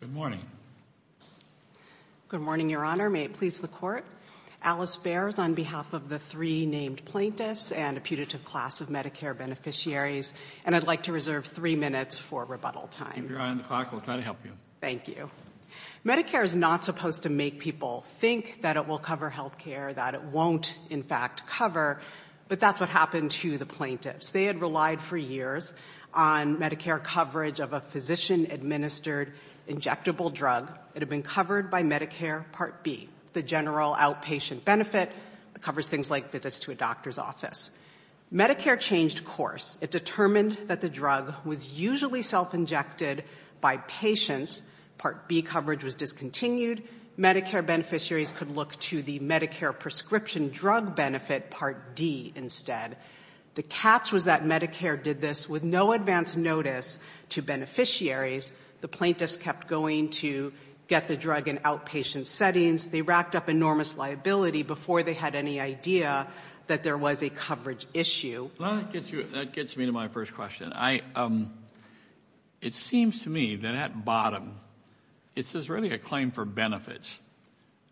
Good morning. Good morning, Your Honor. May it please the Court. Alice Baer is on behalf of the three named plaintiffs and a putative class of Medicare beneficiaries, and I'd like to reserve three minutes for rebuttal time. Keep your eye on the clock. We'll try to help you. Thank you. Medicare is not supposed to make people think that it will cover health care, that it won't, in fact, cover, but that's what happened to the plaintiffs. They had relied for years on Medicare coverage of a physician-administered injectable drug. It had been covered by Medicare Part B, the general outpatient benefit. It covers things like visits to a doctor's office. Medicare changed course. It determined that the drug was usually self-injected by patients. Part B coverage was discontinued. Medicare beneficiaries could look to the Medicare prescription drug benefit, Part D, instead. The catch was that Medicare did this with no advance notice to beneficiaries. The plaintiffs kept going to get the drug in outpatient settings. They racked up enormous liability before they had any idea that there was a coverage issue. That gets me to my first question. It seems to me that at bottom, it's really a claim for benefits.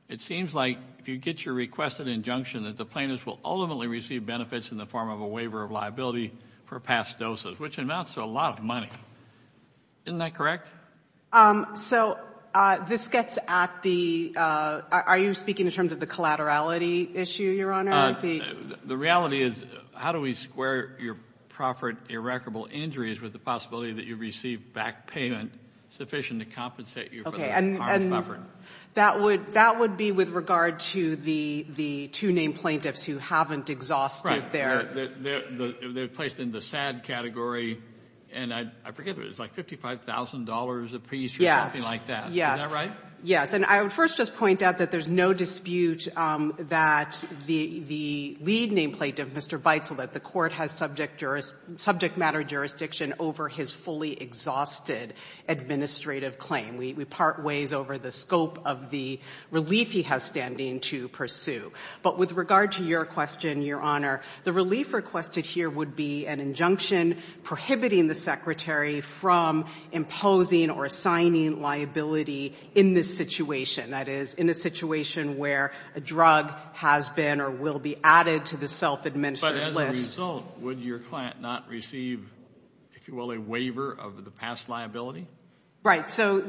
It seems like if you get your requested injunction that the plaintiffs will ultimately receive benefits in the form of a waiver of liability for past doses, which amounts to a lot of money. Isn't that correct? So this gets at the, are you speaking in terms of the collaterality issue, Your Honor? The reality is how do we square your proffered, irreparable injuries with the possibility that you receive back payment sufficient to compensate you for the harm suffered? That would be with regard to the two named plaintiffs who haven't exhausted their They're placed in the sad category, and I forget, it was like $55,000 apiece or something like that. Yes. Is that right? Yes, and I would first just point out that there's no dispute that the lead named plaintiff, Mr. Beitzel, that the court has subject matter jurisdiction over his fully exhausted administrative claim. We part ways over the scope of the relief he has standing to pursue. But with regard to your question, Your Honor, the relief requested here would be an injunction prohibiting the secretary from imposing or assigning liability in this situation. That is, in a situation where a drug has been or will be added to the self-administered list. But as a result, would your client not receive, if you will, a waiver of the past liability? Right, so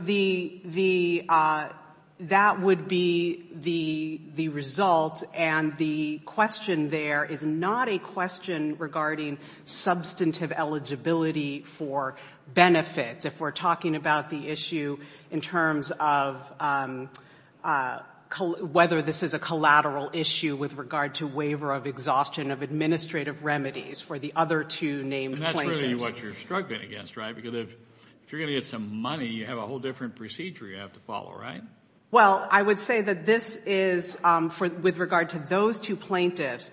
that would be the result. And the question there is not a question regarding substantive eligibility for benefits. If we're talking about the issue in terms of whether this is a collateral issue with regard to waiver of exhaustion of administrative remedies for the other two named plaintiffs. That's clearly what you're struggling against, right? Because if you're going to get some money, you have a whole different procedure you have to follow, right? Well, I would say that this is, with regard to those two plaintiffs,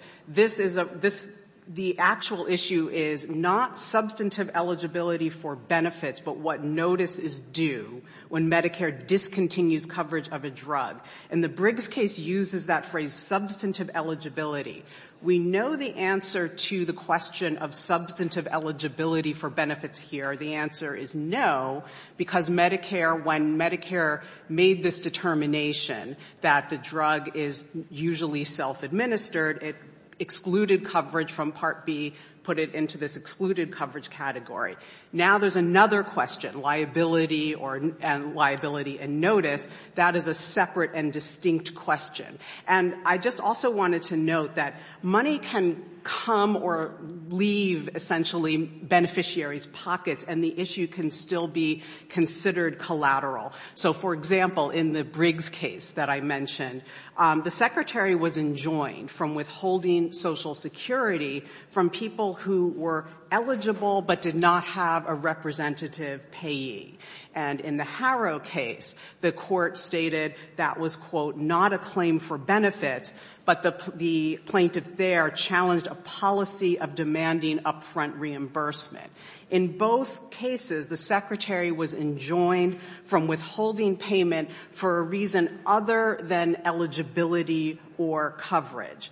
the actual issue is not substantive eligibility for benefits, but what notice is due when Medicare discontinues coverage of a drug. And the Briggs case uses that phrase, substantive eligibility. We know the answer to the question of substantive eligibility for benefits here. The answer is no, because Medicare, when Medicare made this determination that the drug is usually self-administered, it excluded coverage from Part B, put it into this excluded coverage category. Now there's another question, liability and notice. That is a separate and distinct question. And I just also wanted to note that money can come or leave, essentially, beneficiaries' pockets, and the issue can still be considered collateral. So, for example, in the Briggs case that I mentioned, the Secretary was enjoined from withholding Social Security from people who were eligible but did not have a representative payee. And in the Harrow case, the court stated that was, quote, not a claim for benefits, but the plaintiff there challenged a policy of demanding up-front reimbursement. In both cases, the Secretary was enjoined from withholding payment for a reason other than eligibility or coverage.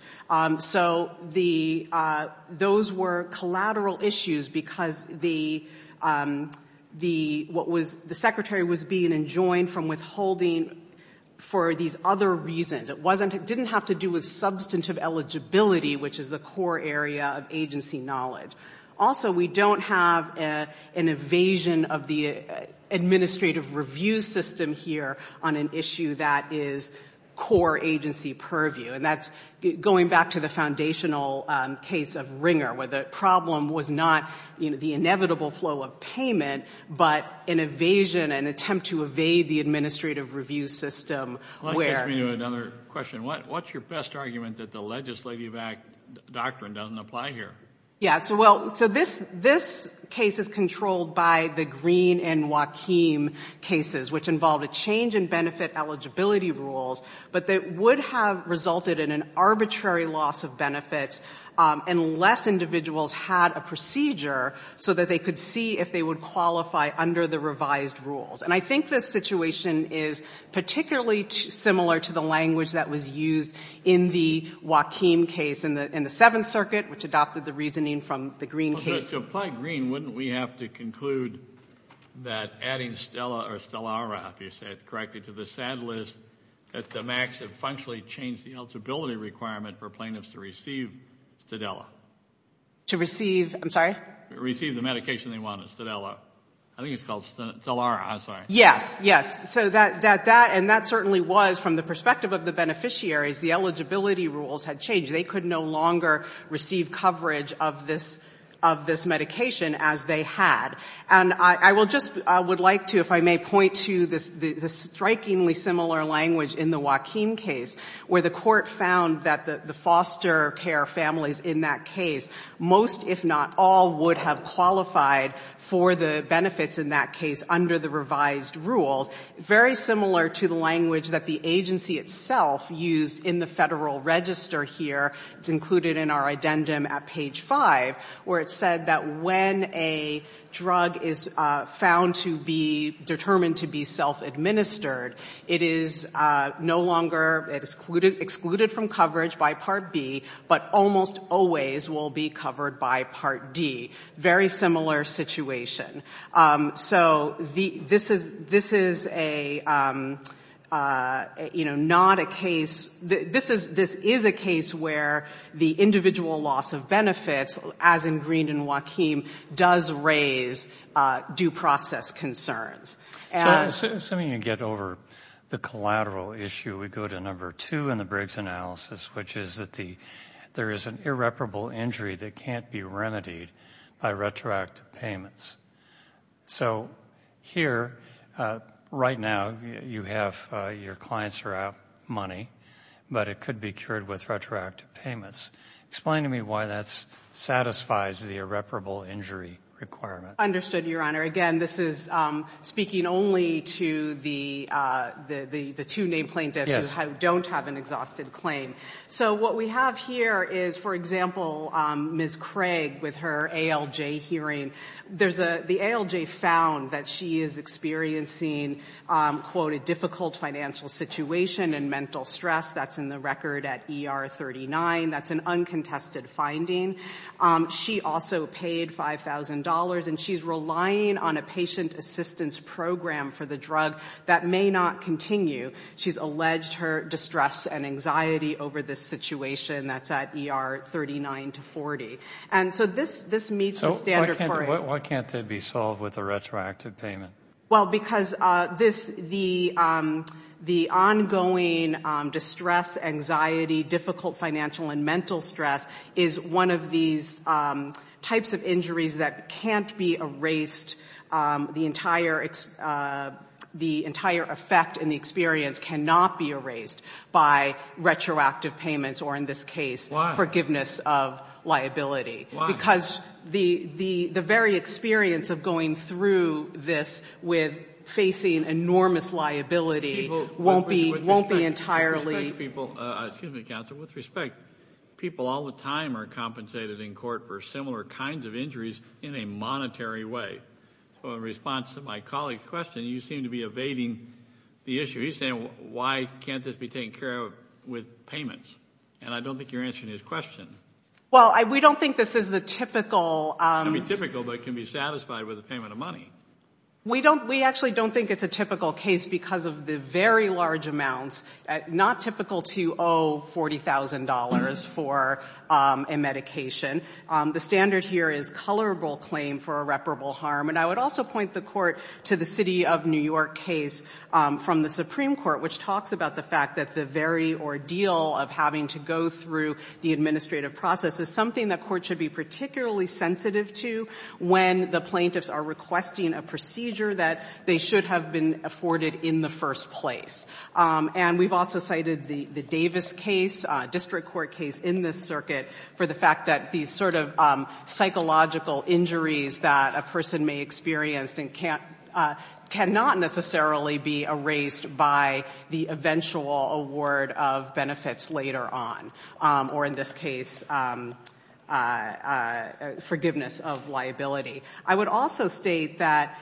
So those were collateral issues because the Secretary was being enjoined from withholding for these other reasons. It didn't have to do with substantive eligibility, which is the core area of agency knowledge. Also, we don't have an evasion of the administrative review system here on an issue that is core agency purview. And that's going back to the foundational case of Ringer, where the problem was not the inevitable flow of payment, but an evasion, an attempt to evade the administrative review system. Let me ask you another question. What's your best argument that the legislative act doctrine doesn't apply here? Yeah, so this case is controlled by the Green and Joaquim cases, which involved a change in benefit eligibility rules, but that would have resulted in an arbitrary loss of benefits unless individuals had a procedure so that they could see if they would qualify under the revised rules. And I think this situation is particularly similar to the language that was used in the Joaquim case in the Seventh Circuit, which adopted the reasoning from the Green case. So if I agree, wouldn't we have to conclude that adding STELA or STELARA, if you said correctly, to the SAD list at the max had functionally changed the eligibility requirement for plaintiffs to receive STELA? To receive, I'm sorry? Receive the medication they wanted, STELA. I think it's called STELARA. I'm sorry. Yes, yes. So that, and that certainly was, from the perspective of the beneficiaries, the eligibility rules had changed. They could no longer receive coverage of this medication as they had. And I will just, I would like to, if I may, point to the strikingly similar language in the Joaquim case, where the court found that the foster care families in that case, most if not all, would have qualified for the benefits in that case under the revised rules, very similar to the language that the agency itself used in the Federal Register here. It's included in our addendum at page 5, where it said that when a drug is found to be determined to be self-administered, it is no longer excluded from coverage by Part B, but almost always will be covered by Part D. Very similar situation. So this is a, you know, not a case, this is a case where the individual loss of benefits, as in Green and Joaquim, does raise due process concerns. So, assuming you get over the collateral issue, we go to number two in the Briggs analysis, which is that there is an irreparable injury that can't be remedied by retroactive payments. So here, right now, you have your clients are out money, but it could be cured with retroactive payments. Explain to me why that satisfies the irreparable injury requirement. Understood, Your Honor. Again, this is speaking only to the two named plaintiffs who don't have an exhausted claim. So what we have here is, for example, Ms. Craig with her ALJ hearing. The ALJ found that she is experiencing, quote, a difficult financial situation and mental stress. That's in the record at ER 39. That's an uncontested finding. She also paid $5,000, and she's relying on a patient assistance program for the drug that may not continue. She's alleged her distress and anxiety over this situation that's at ER 39 to 40. And so this meets the standard for it. So why can't it be solved with a retroactive payment? Well, because the ongoing distress, anxiety, difficult financial and mental stress is one of these types of injuries that can't be erased, the entire effect and the experience cannot be erased by retroactive payments, or in this case forgiveness of liability. Why? Because the very experience of going through this with facing enormous liability won't be entirely Excuse me, counsel. With respect, people all the time are compensated in court for similar kinds of injuries in a monetary way. So in response to my colleague's question, you seem to be evading the issue. He's saying, why can't this be taken care of with payments? And I don't think you're answering his question. Well, we don't think this is the typical It can be typical, but it can be satisfied with a payment of money. We actually don't think it's a typical case because of the very large amounts, not typical to owe $40,000 for a medication. The standard here is colorable claim for irreparable harm. And I would also point the court to the City of New York case from the Supreme Court, which talks about the fact that the very ordeal of having to go through the administrative process is something the court should be particularly sensitive to when the plaintiffs are requesting a procedure that they should have been afforded in the first place. And we've also cited the Davis case, a district court case in this circuit, for the fact that these sort of psychological injuries that a person may experience cannot necessarily be erased by the eventual award of benefits later on, or in this case, forgiveness of liability. I would also state that,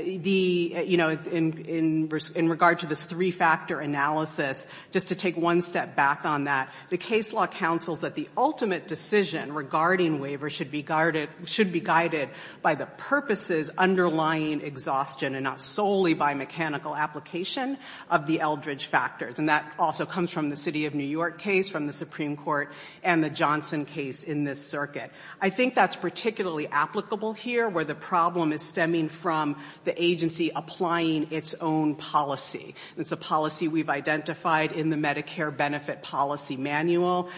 you know, in regard to this three-factor analysis, just to take one step back on that, the case law counsels that the ultimate decision regarding waiver should be guided by the purposes underlying exhaustion and not solely by mechanical application of the Eldridge factors. And that also comes from the City of New York case, from the Supreme Court, and the Johnson case in this circuit. I think that's particularly applicable here, where the problem is stemming from the agency applying its own policy. It's a policy we've identified in the Medicare Benefit Policy Manual.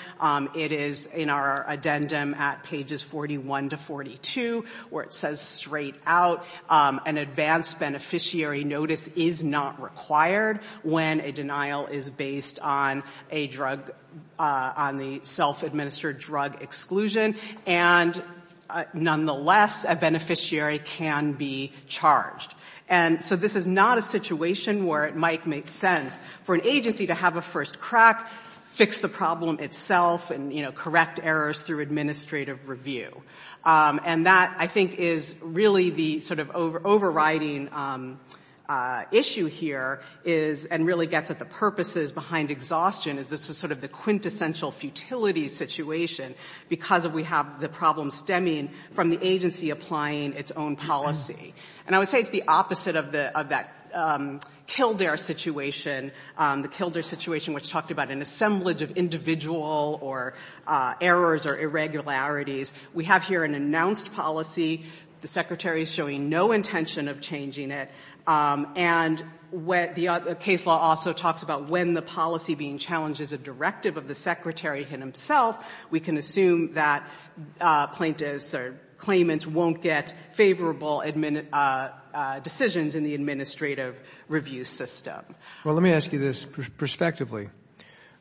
It is in our addendum at pages 41 to 42, where it says straight out, an advanced beneficiary notice is not required when a denial is based on a drug, on the self-administered drug exclusion. And nonetheless, a beneficiary can be charged. And so this is not a situation where it might make sense for an agency to have a first crack, fix the problem itself, and, you know, correct errors through administrative review. And that, I think, is really the sort of overriding issue here, and really gets at the purposes behind exhaustion, is this is sort of the quintessential futility situation because we have the problem stemming from the agency applying its own policy. And I would say it's the opposite of that Kildare situation, the Kildare situation which talked about an assemblage of individual or errors or irregularities. We have here an announced policy. The Secretary is showing no intention of changing it. And the case law also talks about when the policy being challenged is a directive of the Secretary himself, we can assume that plaintiffs or claimants won't get favorable decisions in the administrative review system. Well, let me ask you this prospectively.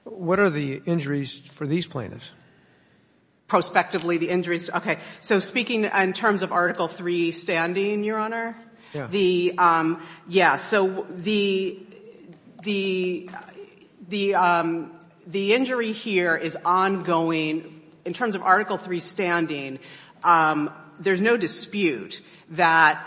What are the injuries for these plaintiffs? Prospectively, the injuries? Okay. So speaking in terms of Article III standing, Your Honor? Yeah. Yeah. So the injury here is ongoing. In terms of Article III standing, there's no dispute that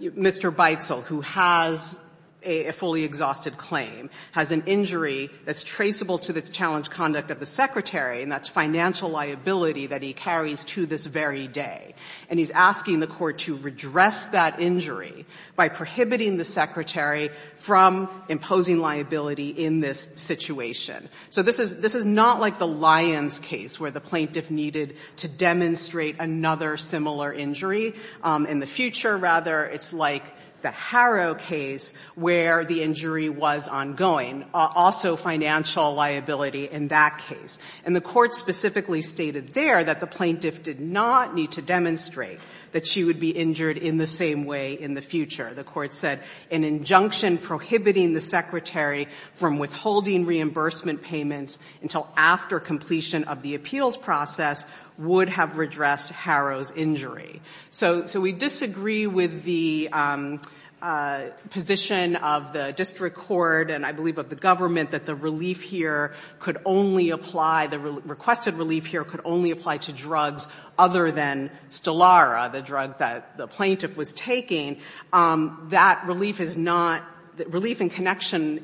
Mr. Beitzel, who has a fully exhausted claim, has an injury that's traceable to the challenge conduct of the Secretary, and that's financial liability that he carries to this very day. And he's asking the court to redress that injury by prohibiting the Secretary from imposing liability in this situation. So this is not like the Lyons case where the plaintiff needed to demonstrate another similar injury. In the future, rather, it's like the Harrow case where the injury was ongoing. Also financial liability in that case. And the court specifically stated there that the plaintiff did not need to demonstrate that she would be injured in the same way in the future. The court said an injunction prohibiting the Secretary from withholding reimbursement payments until after completion of the appeals process would have redressed Harrow's injury. So we disagree with the position of the district court, and I believe of the government, that the relief here could only apply, the requested relief here could only apply to drugs other than Stellara, the drug that the plaintiff was taking. That relief is not, relief in connection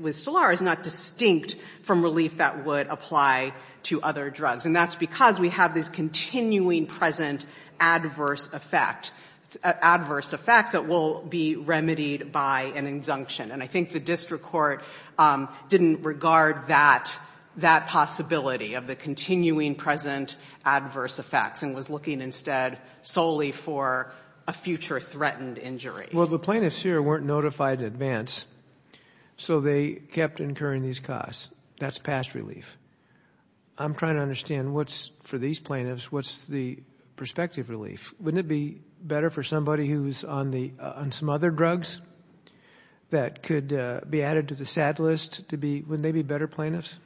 with Stellara is not distinct from relief that would apply to other drugs. And that's because we have this continuing present adverse effect, adverse effects that will be remedied by an injunction. And I think the district court didn't regard that possibility of the continuing present adverse effects and was looking instead solely for a future threatened injury. Well, the plaintiffs here weren't notified in advance, so they kept incurring these costs. That's past relief. I'm trying to understand what's, for these plaintiffs, what's the prospective relief. Wouldn't it be better for somebody who's on some other drugs that could be added to the SAD list to be, wouldn't they be better plaintiffs?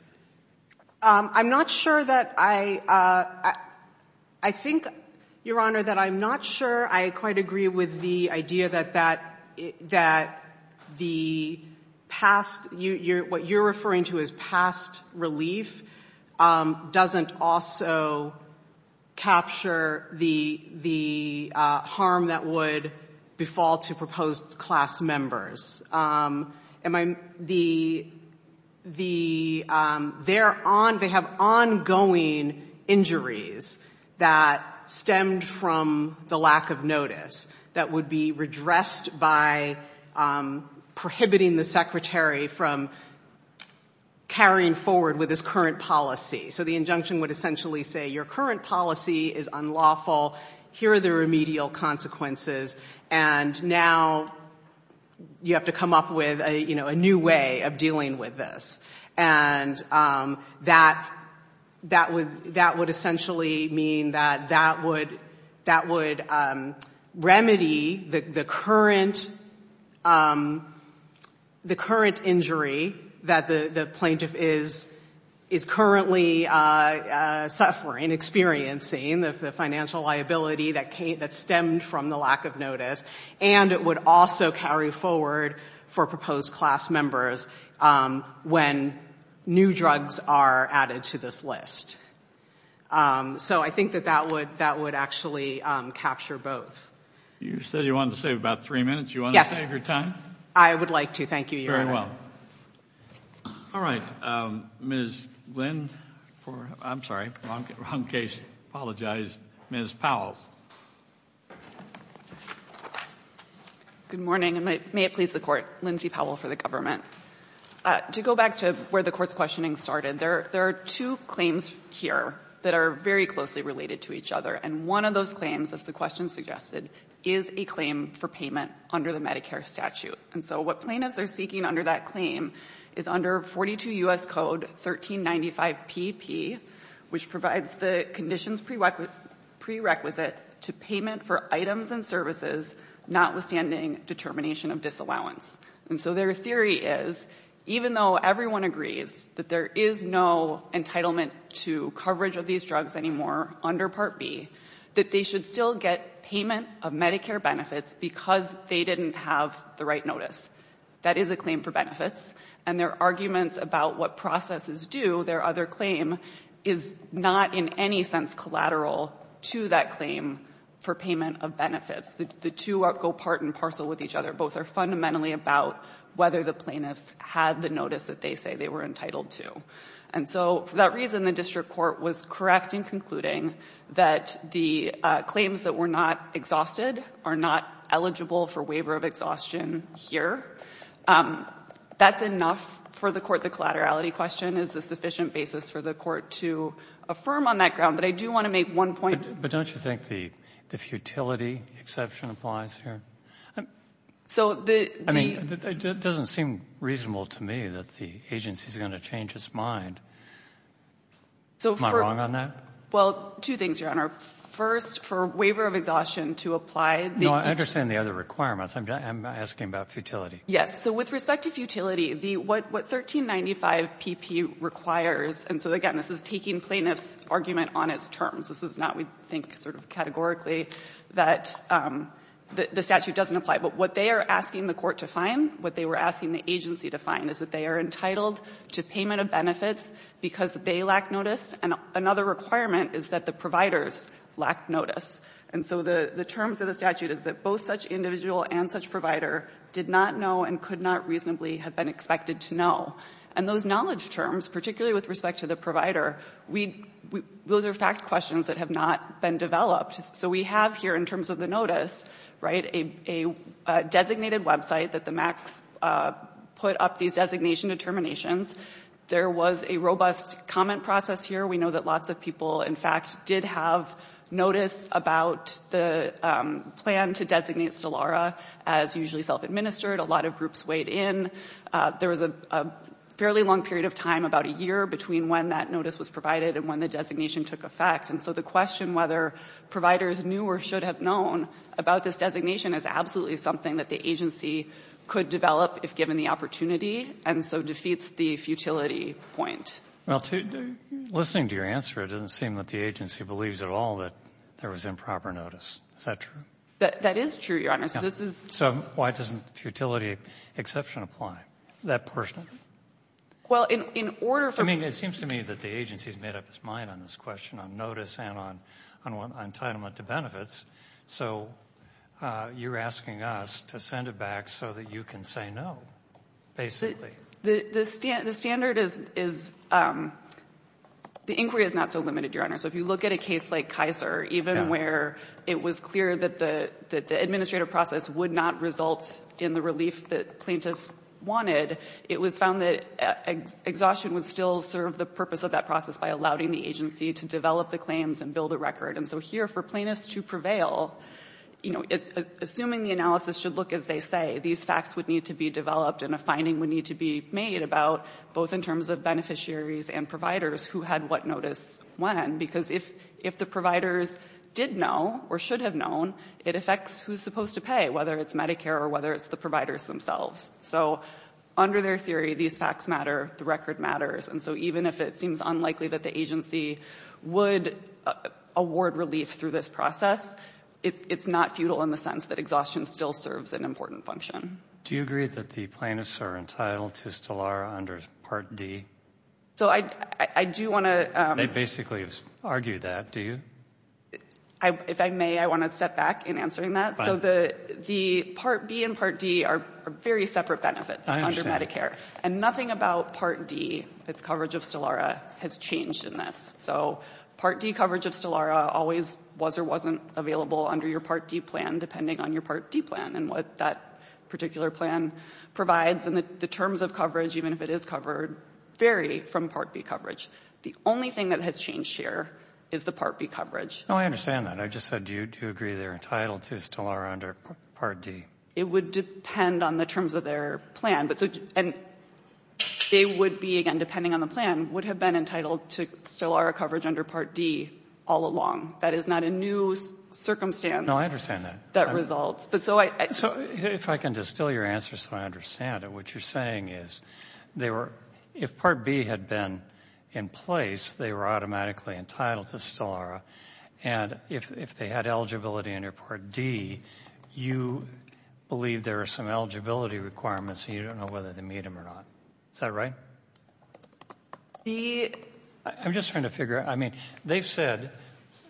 I'm not sure that I, I think, Your Honor, that I'm not sure I quite agree with the idea that the past, what you're referring to as past relief doesn't also capture the harm that would befall to proposed class members. Am I, the, the, they're on, they have ongoing injuries that stemmed from the lack of notice that would be redressed by prohibiting the secretary from carrying forward with his current policy. So the injunction would essentially say your current policy is unlawful, here are the remedial consequences, and now you have to come up with a, you know, a new way of dealing with this. And that, that would, that would essentially mean that that would, that would remedy the current, the current injury that the plaintiff is, is currently suffering, experiencing, the financial liability that came, that stemmed from the lack of notice, and it would also carry forward for proposed class members when new drugs are added to this list. So I think that that would, that would actually capture both. You said you wanted to save about three minutes. Yes. Do you want to save your time? I would like to, thank you, Your Honor. Very well. All right. Ms. Glynn for, I'm sorry, wrong case. Apologize. Ms. Powell. Good morning, and may it please the Court. Lindsay Powell for the government. To go back to where the Court's questioning started, there are two claims here that are very closely related to each other, and one of those claims, as the question suggested, is a claim for payment under the Medicare statute. And so what plaintiffs are seeking under that claim is under 42 U.S. Code 1395pp, which provides the conditions prerequisite to payment for items and services notwithstanding determination of disallowance. And so their theory is, even though everyone agrees that there is no entitlement to coverage of these drugs anymore under Part B, that they should still get payment of Medicare benefits because they didn't have the right notice. That is a claim for benefits. And their arguments about what processes do, their other claim, is not in any sense collateral to that claim for payment of benefits. The two go part and parcel with each other. Both are fundamentally about whether the plaintiffs had the notice that they say they were entitled to. And so for that reason, the district court was correcting, concluding that the claims that were not exhausted are not eligible for waiver of exhaustion here. That's enough for the Court. The collaterality question is a sufficient basis for the Court to affirm on that ground. But I do want to make one point. But don't you think the futility exception applies here? So the — I mean, it doesn't seem reasonable to me that the agency is going to change its mind. Am I wrong on that? Well, two things, Your Honor. First, for waiver of exhaustion to apply the — No, I understand the other requirements. I'm asking about futility. Yes. So with respect to futility, the — what 1395pp requires — and so, again, this is taking plaintiffs' argument on its terms. This is not, we think, sort of categorically that the statute doesn't apply. But what they are asking the Court to find, what they were asking the agency to find, is that they are entitled to payment of benefits because they lack notice. And another requirement is that the providers lack notice. And so the terms of the statute is that both such individual and such provider did not know and could not reasonably have been expected to know. And those knowledge terms, particularly with respect to the provider, we — those are fact questions that have not been developed. So we have here, in terms of the notice, right, a designated website that the MACS put up these designation determinations. There was a robust comment process here. We know that lots of people, in fact, did have notice about the plan to designate Stellara as usually self-administered. A lot of groups weighed in. There was a fairly long period of time, about a year, between when that notice was provided and when the designation took effect. And so the question whether providers knew or should have known about this designation is absolutely something that the agency could develop if given the opportunity and so defeats the futility point. Well, to — listening to your answer, it doesn't seem that the agency believes at all that there was improper notice. Is that true? That is true, Your Honor. So this is — So why doesn't futility exception apply? That person? Well, in order for — I mean, it seems to me that the agency has made up its mind on this question on notice and on entitlement to benefits. So you're asking us to send it back so that you can say no, basically. The standard is — the inquiry is not so limited, Your Honor. So if you look at a case like Kaiser, even where it was clear that the administrative process would not result in the relief that plaintiffs wanted, it was found that exhaustion would still serve the purpose of that process by allowing the agency to develop the claims and build a record. And so here, for plaintiffs to prevail, you know, assuming the analysis should look as they say, these facts would need to be developed and a finding would need to be made about both in terms of beneficiaries and providers who had what notice when, because if the providers did know or should have known, it affects who's supposed to pay, whether it's Medicare or whether it's the providers themselves. So under their theory, these facts matter, the record matters. And so even if it seems unlikely that the agency would award relief through this process, it's not futile in the sense that exhaustion still serves an important function. Do you agree that the plaintiffs are entitled to still are under Part D? So I do want to — They basically argue that, do you? If I may, I want to step back in answering that. So the Part B and Part D are very separate benefits under Medicare. And nothing about Part D, its coverage of STELLARA, has changed in this. So Part D coverage of STELLARA always was or wasn't available under your Part D plan, depending on your Part D plan and what that particular plan provides. And the terms of coverage, even if it is covered, vary from Part B coverage. The only thing that has changed here is the Part B coverage. No, I understand that. I just said, do you agree they're entitled to STELLARA under Part D? It would depend on the terms of their plan. And they would be, again, depending on the plan, would have been entitled to STELLARA coverage under Part D all along. That is not a new circumstance. No, I understand that. That results. So if I can distill your answer so I understand it, what you're saying is they were — if Part B had been in place, they were automatically entitled to STELLARA. And if they had eligibility under Part D, you believe there are some suggestions as to whether they meet them or not. Is that right? The — I'm just trying to figure out. I mean, they've said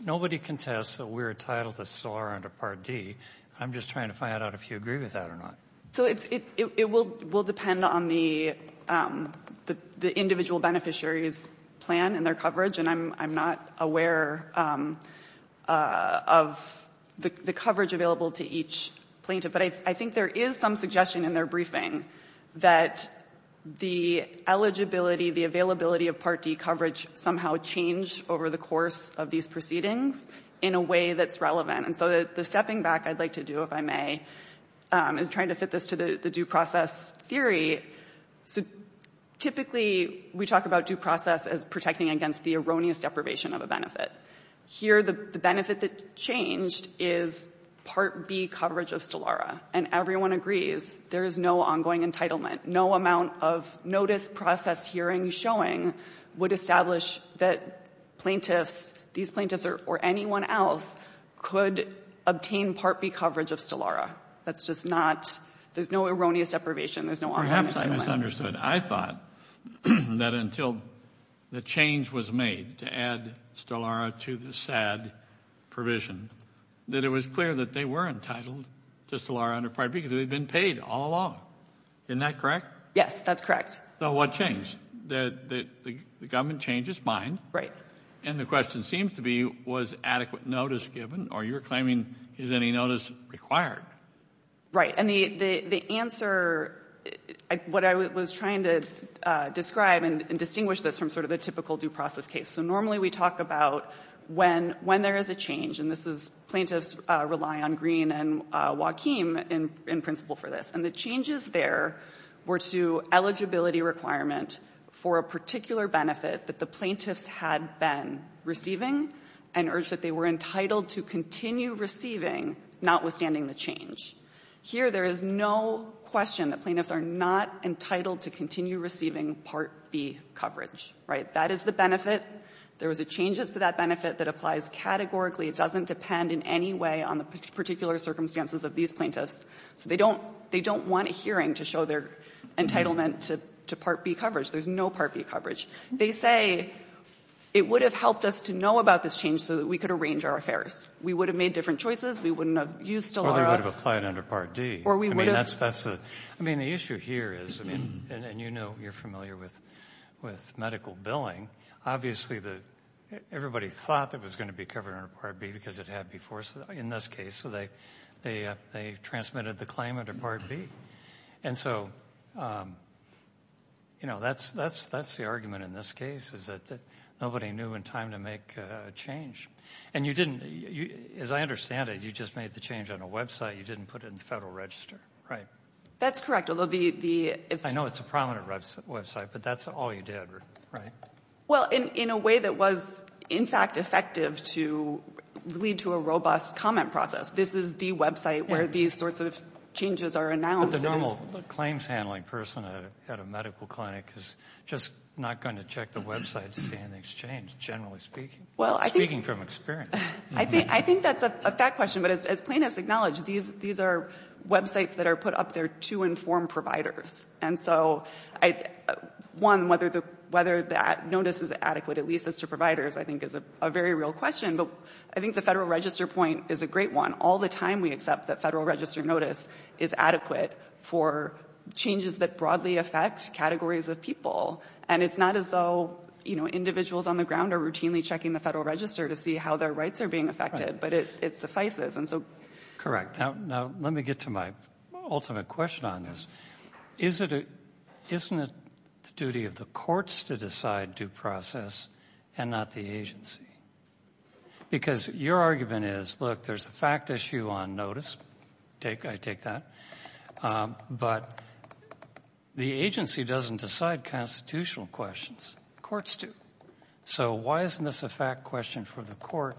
nobody contests that we're entitled to STELLARA under Part D. I'm just trying to find out if you agree with that or not. So it will depend on the individual beneficiary's plan and their coverage. And I'm not aware of the coverage available to each plaintiff. But I think there is some suggestion in their briefing that the eligibility, the availability of Part D coverage somehow changed over the course of these proceedings in a way that's relevant. And so the stepping back I'd like to do, if I may, is trying to fit this to the due process theory. Typically, we talk about due process as protecting against the erroneous deprivation of a benefit. Here, the benefit that changed is Part B coverage of STELLARA. And everyone agrees there is no ongoing entitlement. No amount of notice, process, hearing, showing would establish that plaintiffs — these plaintiffs or anyone else could obtain Part B coverage of STELLARA. That's just not — there's no erroneous deprivation. There's no ongoing entitlement. Perhaps I misunderstood. I thought that until the change was made to add STELLARA to the SAD provision, that it was clear that they were entitled to STELLARA under Part B because they'd been paid all along. Isn't that correct? Yes, that's correct. So what changed? The government changed its mind. Right. And the question seems to be, was adequate notice given? Or you're claiming, is any notice required? Right. And the answer — what I was trying to describe and distinguish this from sort of the typical due process case. So normally we talk about when there is a change. And this is — plaintiffs rely on Green and Joaquim in principle for this. And the changes there were to eligibility requirement for a particular benefit that the plaintiffs had been receiving and urged that they were entitled to continue receiving, notwithstanding the change. Here there is no question that plaintiffs are not entitled to continue receiving Part B coverage. Right? That is the benefit. There was a change to that benefit that applies categorically. It doesn't depend in any way on the particular circumstances of these plaintiffs. So they don't — they don't want a hearing to show their entitlement to Part B coverage. There's no Part B coverage. They say it would have helped us to know about this change so that we could arrange our affairs. We would have made different choices. We wouldn't have used STELLARA. Or they would have applied under Part D. Or we would have — I mean, the issue here is — and you know, you're familiar with medical billing. Obviously, everybody thought that it was going to be covered under Part B because it had before in this case. So they transmitted the claim under Part B. And so, you know, that's the argument in this case, is that nobody knew in time to make a change. And you didn't — as I understand it, you just made the change on a website. You didn't put it in the Federal Register, right? That's correct. Although the — I know it's a prominent website, but that's all you did, right? Well, in a way that was, in fact, effective to lead to a robust comment process. This is the website where these sorts of changes are announced. But the normal claims handling person at a medical clinic is just not going to check the website to see anything's changed, generally speaking. Well, I think — Speaking from experience. I think that's a fact question, but as plaintiffs acknowledge, these are websites that are put up there to inform providers. And so, one, whether that notice is adequate, at least as to providers, I think is a very real question. But I think the Federal Register point is a great one. All the time we accept that Federal Register notice is adequate for changes that broadly affect categories of people. And it's not as though, you know, individuals on the ground are routinely checking the Federal Register to see how their rights are being affected. But it suffices, and so — Correct. Now, let me get to my ultimate question on this. Isn't it the duty of the courts to decide due process and not the agency? Because your argument is, look, there's a fact issue on notice. I take that. But the agency doesn't decide constitutional questions. Courts do. So why isn't this a fact question for the court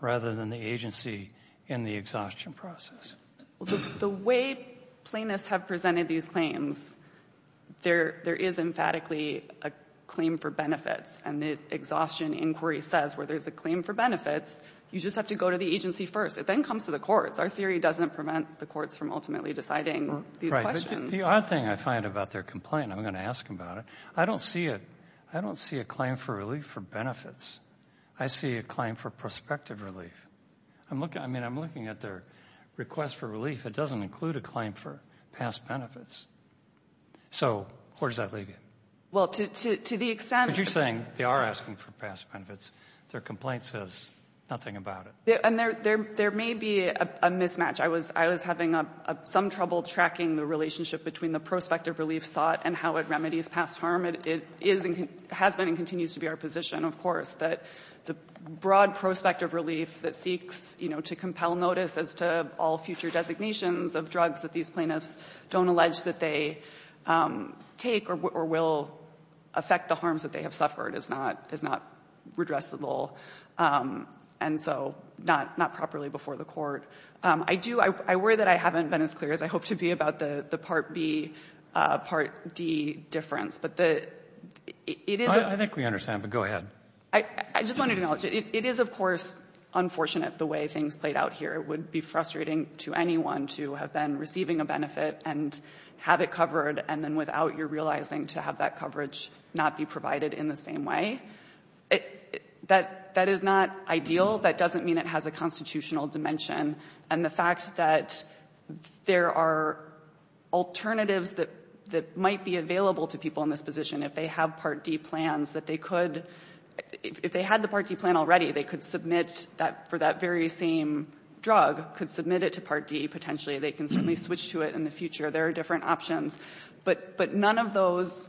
rather than the agency in the exhaustion process? The way plaintiffs have presented these claims, there is emphatically a claim for benefits. And the exhaustion inquiry says where there's a claim for benefits, you just have to go to the agency first. It then comes to the courts. Our theory doesn't prevent the courts from ultimately deciding these questions. The odd thing I find about their complaint, and I'm going to ask them about it, I don't see a claim for relief for benefits. I see a claim for prospective relief. I mean, I'm looking at their request for relief. It doesn't include a claim for past benefits. So where does that leave you? Well, to the extent — But you're saying they are asking for past benefits. Their complaint says nothing about it. And there may be a mismatch. I was having some trouble tracking the relationship between the prospective relief sought and how it remedies past harm. It has been and continues to be our position, of course, that the broad prospective relief that seeks, you know, to compel notice as to all future designations of drugs that these plaintiffs don't allege that they take or will affect the harms that they have suffered is not redressable. And so not properly before the court. I do — I worry that I haven't been as clear as I hope to be about the Part B, Part D difference. But the — I think we understand, but go ahead. I just wanted to acknowledge it. It is, of course, unfortunate the way things played out here. It would be frustrating to anyone to have been receiving a benefit and have it covered and then without your realizing to have that coverage not be provided in the same way. That is not ideal. That doesn't mean it has a constitutional dimension. And the fact that there are alternatives that might be available to people in this position, if they have Part D plans, that they could — if they had the Part D plan already, they could submit that for that very same drug, could submit it to Part D potentially. They can certainly switch to it in the future. There are different options. But none of those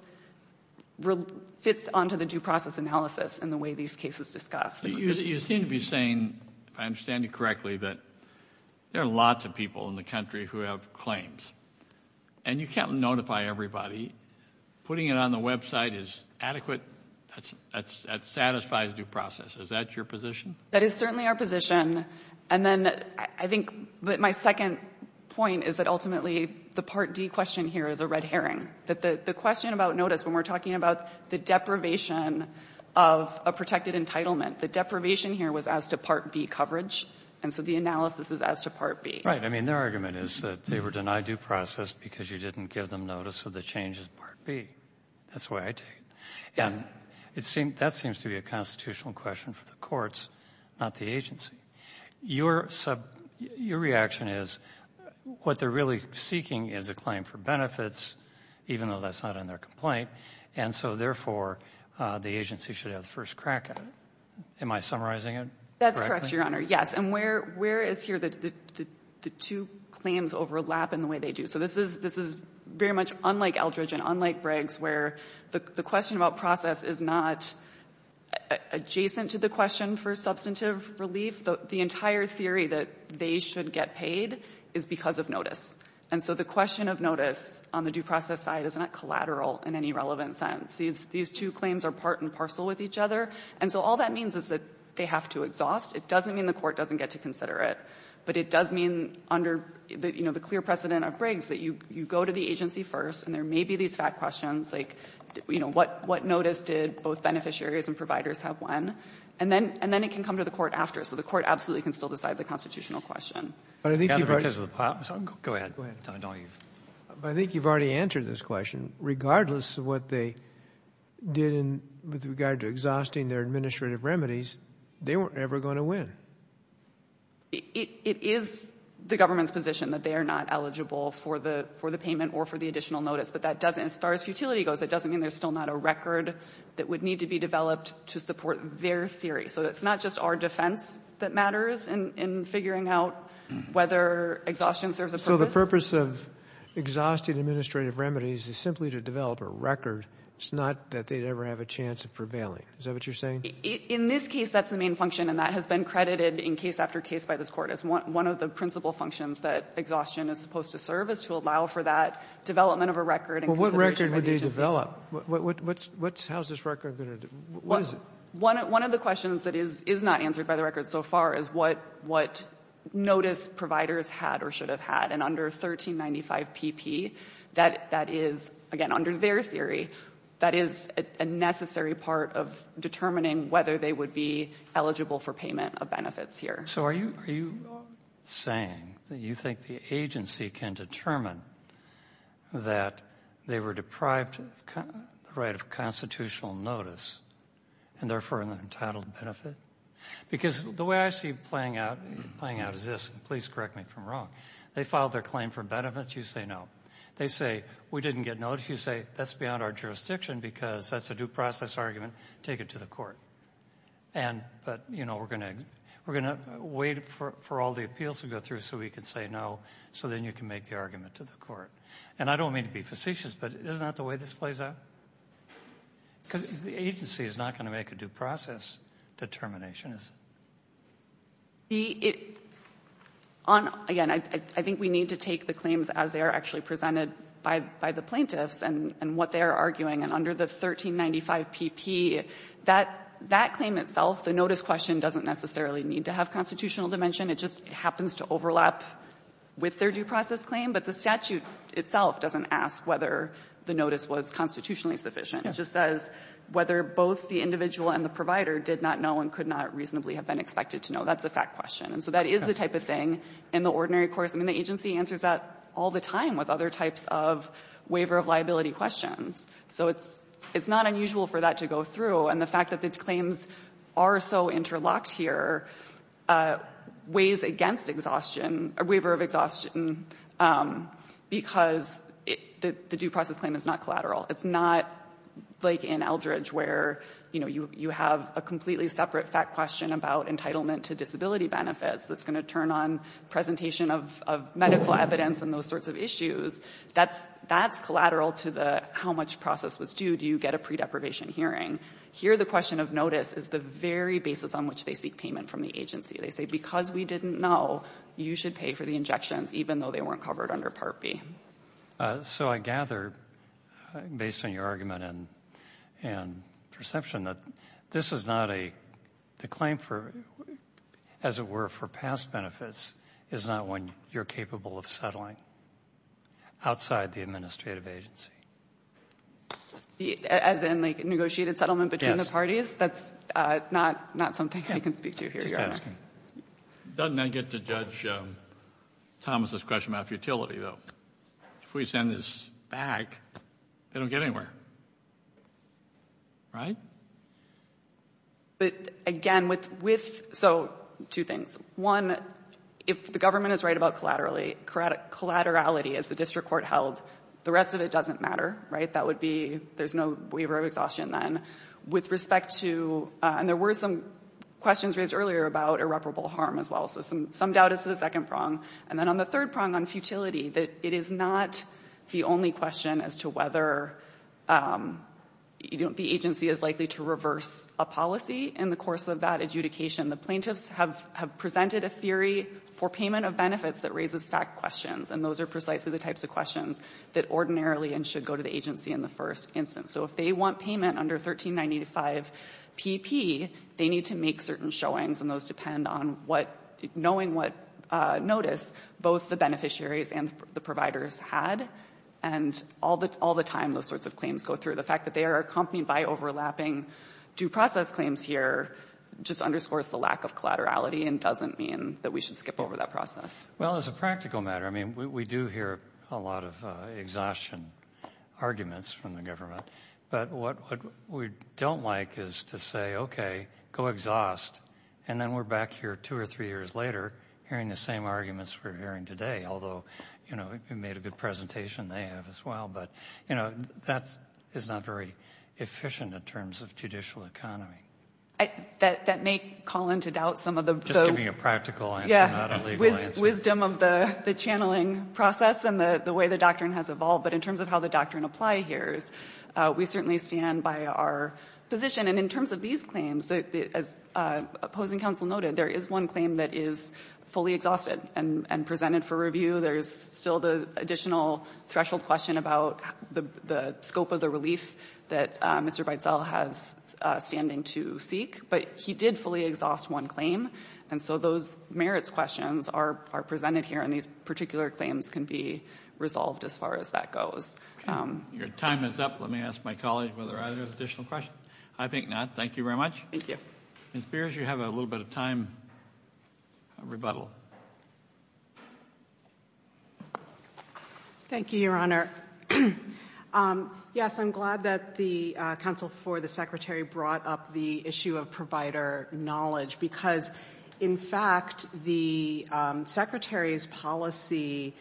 fits onto the due process analysis and the way these cases discuss. You seem to be saying, if I understand you correctly, that there are lots of people in the country who have claims. And you can't notify everybody. Putting it on the website is adequate. That satisfies due process. Is that your position? That is certainly our position. And then I think my second point is that ultimately the Part D question here is a red herring. The question about notice, when we're talking about the deprivation of a protected entitlement, the deprivation here was as to Part B coverage. And so the analysis is as to Part B. Right. I mean, their argument is that they were denied due process because you didn't give them notice of the changes in Part B. That's the way I take it. Yes. That seems to be a constitutional question for the courts, not the agency. Your reaction is what they're really seeking is a claim for benefits, even though that's not in their complaint. And so, therefore, the agency should have the first crack at it. Am I summarizing it correctly? That's correct, Your Honor. Yes. And where is here the two claims overlap in the way they do? So this is very much unlike Eldridge and unlike Briggs, where the question about process is not adjacent to the question for substantive relief. The entire theory that they should get paid is because of notice. And so the question of notice on the due process side is not collateral in any relevant sense. These two claims are part and parcel with each other. And so all that means is that they have to exhaust. It doesn't mean the court doesn't get to consider it. But it does mean, under the clear precedent of Briggs, that you go to the agency first, and there may be these fat questions, like what notice did both beneficiaries and providers have when? And then it can come to the court after. So the court absolutely can still decide the constitutional question. But I think you've already answered this question. Regardless of what they did with regard to exhausting their administrative remedies, they weren't ever going to win. It is the government's position that they are not eligible for the payment or for the additional notice. But as far as utility goes, it doesn't mean there's still not a record that would need to be developed to support their theory. So it's not just our defense that matters in figuring out whether exhaustion serves a purpose. So the purpose of exhausting administrative remedies is simply to develop a record. It's not that they'd ever have a chance of prevailing. Is that what you're saying? In this case, that's the main function, and that has been credited in case after case by this court as one of the principal functions that exhaustion is supposed to serve, is to allow for that development of a record and consideration Well, what record would they develop? How's this record going to do? What is it? One of the questions that is not answered by the record so far is what notice providers had or should have had. And under 1395pp, that is, again, under their theory, that is a necessary part of determining whether they would be eligible for payment of benefits here. So are you saying that you think the agency can determine that they were deprived of the right of constitutional notice and therefore entitled to benefit? Because the way I see it playing out is this. Please correct me if I'm wrong. They filed their claim for benefits. You say no. They say we didn't get notice. Well, if you say that's beyond our jurisdiction because that's a due process argument, take it to the court. But, you know, we're going to wait for all the appeals to go through so we can say no, so then you can make the argument to the court. And I don't mean to be facetious, but isn't that the way this plays out? Because the agency is not going to make a due process determination, is it? Again, I think we need to take the claims as they are actually presented by the plaintiffs and what they are arguing. And under the 1395pp, that claim itself, the notice question doesn't necessarily need to have constitutional dimension. It just happens to overlap with their due process claim. But the statute itself doesn't ask whether the notice was constitutionally sufficient. It just says whether both the individual and the provider did not know and could not reasonably have been expected to know. That's a fact question. And so that is the type of thing in the ordinary course. I mean, the agency answers that all the time with other types of waiver of liability questions. So it's not unusual for that to go through. And the fact that the claims are so interlocked here weighs against exhaustion or waiver of exhaustion because the due process claim is not collateral. It's not like in Eldridge where, you know, you have a completely separate fact question about entitlement to disability benefits that's going to turn on presentation of medical evidence and those sorts of issues. That's collateral to the how much process was due. Do you get a pre-deprivation hearing? Here the question of notice is the very basis on which they seek payment from the agency. They say because we didn't know, you should pay for the injections even though they weren't covered under Part B. So I gather, based on your argument and perception, that this is not a claim for, as it were for past benefits, is not one you're capable of settling outside the administrative agency. As in, like, negotiated settlement between the parties? Yes. That's not something I can speak to here, Your Honor. Just asking. Doesn't that get to judge Thomas' question about futility, though? If we send this back, they don't get anywhere. Right? But, again, with so two things. One, if the government is right about collaterality as the district court held, the rest of it doesn't matter, right? That would be, there's no waiver of exhaustion then. With respect to, and there were some questions raised earlier about irreparable harm as well. So some doubt as to the second prong. And then on the third prong on futility, that it is not the only question as to whether the agency is likely to reverse a policy in the course of that adjudication. The plaintiffs have presented a theory for payment of benefits that raises back questions. And those are precisely the types of questions that ordinarily should go to the agency in the first instance. So if they want payment under 1395PP, they need to make certain showings. And those depend on what, knowing what notice both the beneficiaries and the providers had. And all the time those sorts of claims go through. The fact that they are accompanied by overlapping due process claims here just underscores the lack of collaterality and doesn't mean that we should skip over that process. Well, as a practical matter, I mean, we do hear a lot of exhaustion arguments from the government. But what we don't like is to say, okay, go exhaust. And then we're back here two or three years later hearing the same arguments we're hearing today. Although, you know, you made a good presentation, they have as well. But, you know, that is not very efficient in terms of judicial economy. That may call into doubt some of the – Just giving a practical answer, not a legal answer. Yeah, wisdom of the channeling process and the way the doctrine has evolved. But in terms of how the doctrine applies here, we certainly stand by our position. And in terms of these claims, as opposing counsel noted, there is one claim that is fully exhausted and presented for review. There is still the additional threshold question about the scope of the relief that Mr. Beitzel has standing to seek. But he did fully exhaust one claim. And so those merits questions are presented here. And these particular claims can be resolved as far as that goes. Okay. Your time is up. Let me ask my colleague whether there are other additional questions. I think not. Thank you very much. Thank you. Ms. Beers, you have a little bit of time for rebuttal. Thank you, Your Honor. Yes, I'm glad that the counsel for the Secretary brought up the issue of provider knowledge because, in fact, the Secretary's policy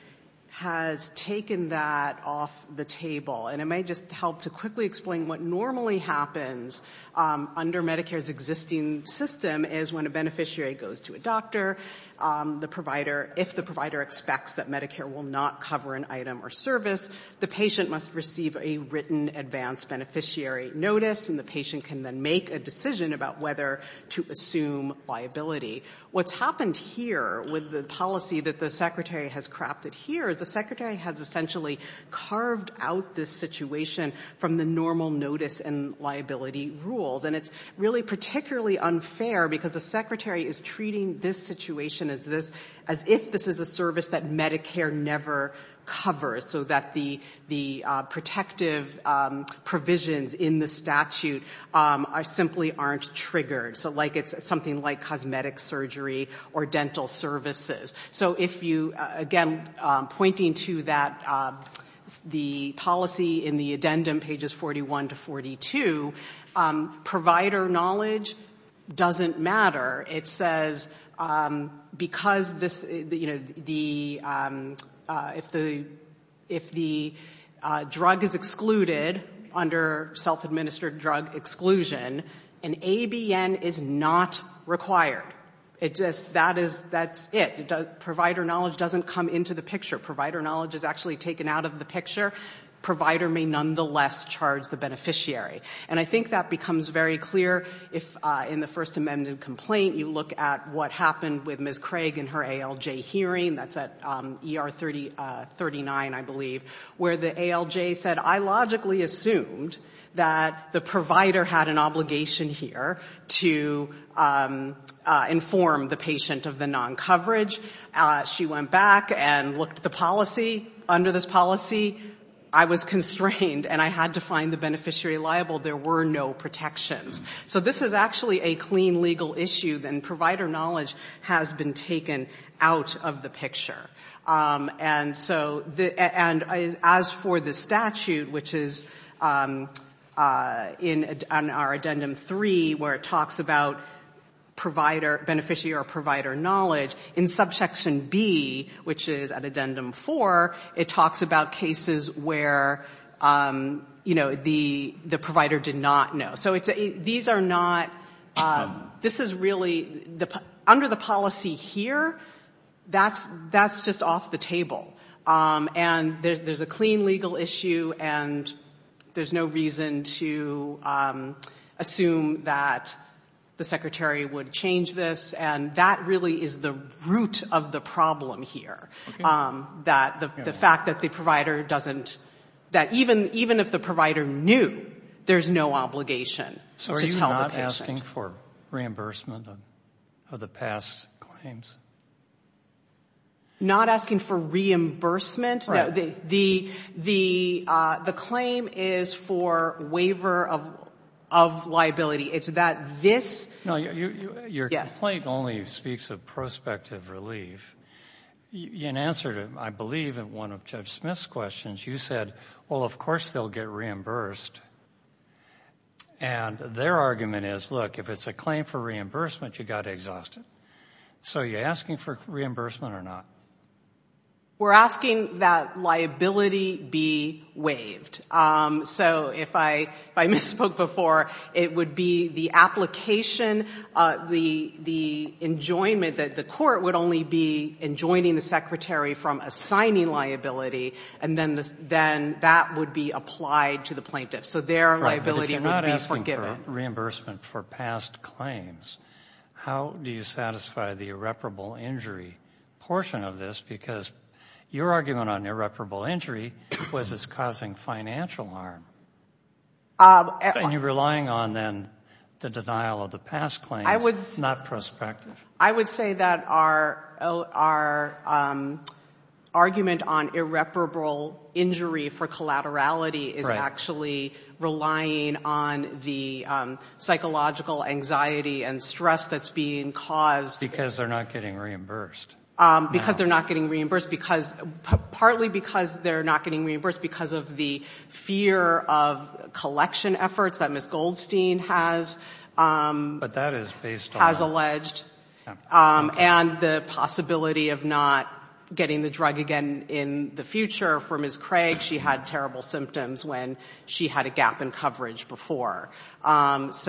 has taken that off the table. And it may just help to quickly explain what normally happens under Medicare's existing system is when a beneficiary goes to a doctor, the provider, if the provider expects that Medicare will not cover an item or service, the patient must receive a written advance beneficiary notice, and the patient can then make a decision about whether to assume liability. What's happened here with the policy that the Secretary has crafted here is the Secretary has essentially carved out this situation from the normal notice and liability rules. And it's really particularly unfair because the Secretary is treating this situation as if this is a service that Medicare never covers, so that the protective provisions in the statute simply aren't triggered. So it's something like cosmetic surgery or dental services. So if you, again, pointing to that, the policy in the addendum, pages 41 to 42, provider knowledge doesn't matter. It says because this, you know, if the drug is excluded under self-administered drug exclusion, an ABN is not required. That's it. Provider knowledge doesn't come into the picture. Provider knowledge is actually taken out of the picture. Provider may nonetheless charge the beneficiary. And I think that becomes very clear in the First Amendment complaint. You look at what happened with Ms. Craig in her ALJ hearing. That's at ER 39, I believe, where the ALJ said, I logically assumed that the informed the patient of the non-coverage. She went back and looked at the policy. Under this policy, I was constrained and I had to find the beneficiary liable. There were no protections. So this is actually a clean legal issue, and provider knowledge has been taken out of the picture. And so as for the statute, which is in our Addendum 3, where it talks about beneficiary or provider knowledge, in Subsection B, which is at Addendum 4, it talks about cases where, you know, the provider did not know. So these are not – this is really – under the policy here, that's just off the table. And there's a clean legal issue, and there's no reason to assume that the Secretary would change this. And that really is the root of the problem here, that the fact that the provider knew, there's no obligation to tell the patient. So are you not asking for reimbursement of the past claims? Not asking for reimbursement? Right. The claim is for waiver of liability. It's that this – No, your complaint only speaks of prospective relief. In answer to, I believe, one of Judge Smith's questions, you said, well, of course, they're reimbursed. And their argument is, look, if it's a claim for reimbursement, you've got to exhaust it. So are you asking for reimbursement or not? We're asking that liability be waived. So if I misspoke before, it would be the application, the enjoyment that the court would only be enjoining the Secretary from assigning liability, and then that would be applied to the plaintiff. So their liability would be forgiven. Right, but if you're not asking for reimbursement for past claims, how do you satisfy the irreparable injury portion of this? Because your argument on irreparable injury was it's causing financial harm. And you're relying on, then, the denial of the past claims, not prospective. I would say that our argument on irreparable injury for collaterality is actually relying on the psychological anxiety and stress that's being caused. Because they're not getting reimbursed. Because they're not getting reimbursed, partly because they're not getting reimbursed because of the fear of collection efforts that Ms. Goldstein has. But that is based on. Has alleged. And the possibility of not getting the drug again in the future for Ms. Craig. She had terrible symptoms when she had a gap in coverage before. And,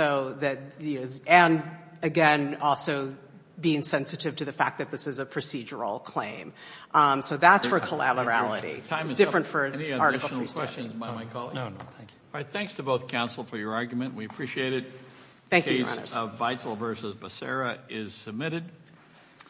again, also being sensitive to the fact that this is a procedural claim. So that's for collaterality. Any additional questions by my colleague? No, no, thank you. All right, thanks to both counsel for your argument. We appreciate it. Thank you, Your Honors. The case of Beitzel v. Becerra is submitted.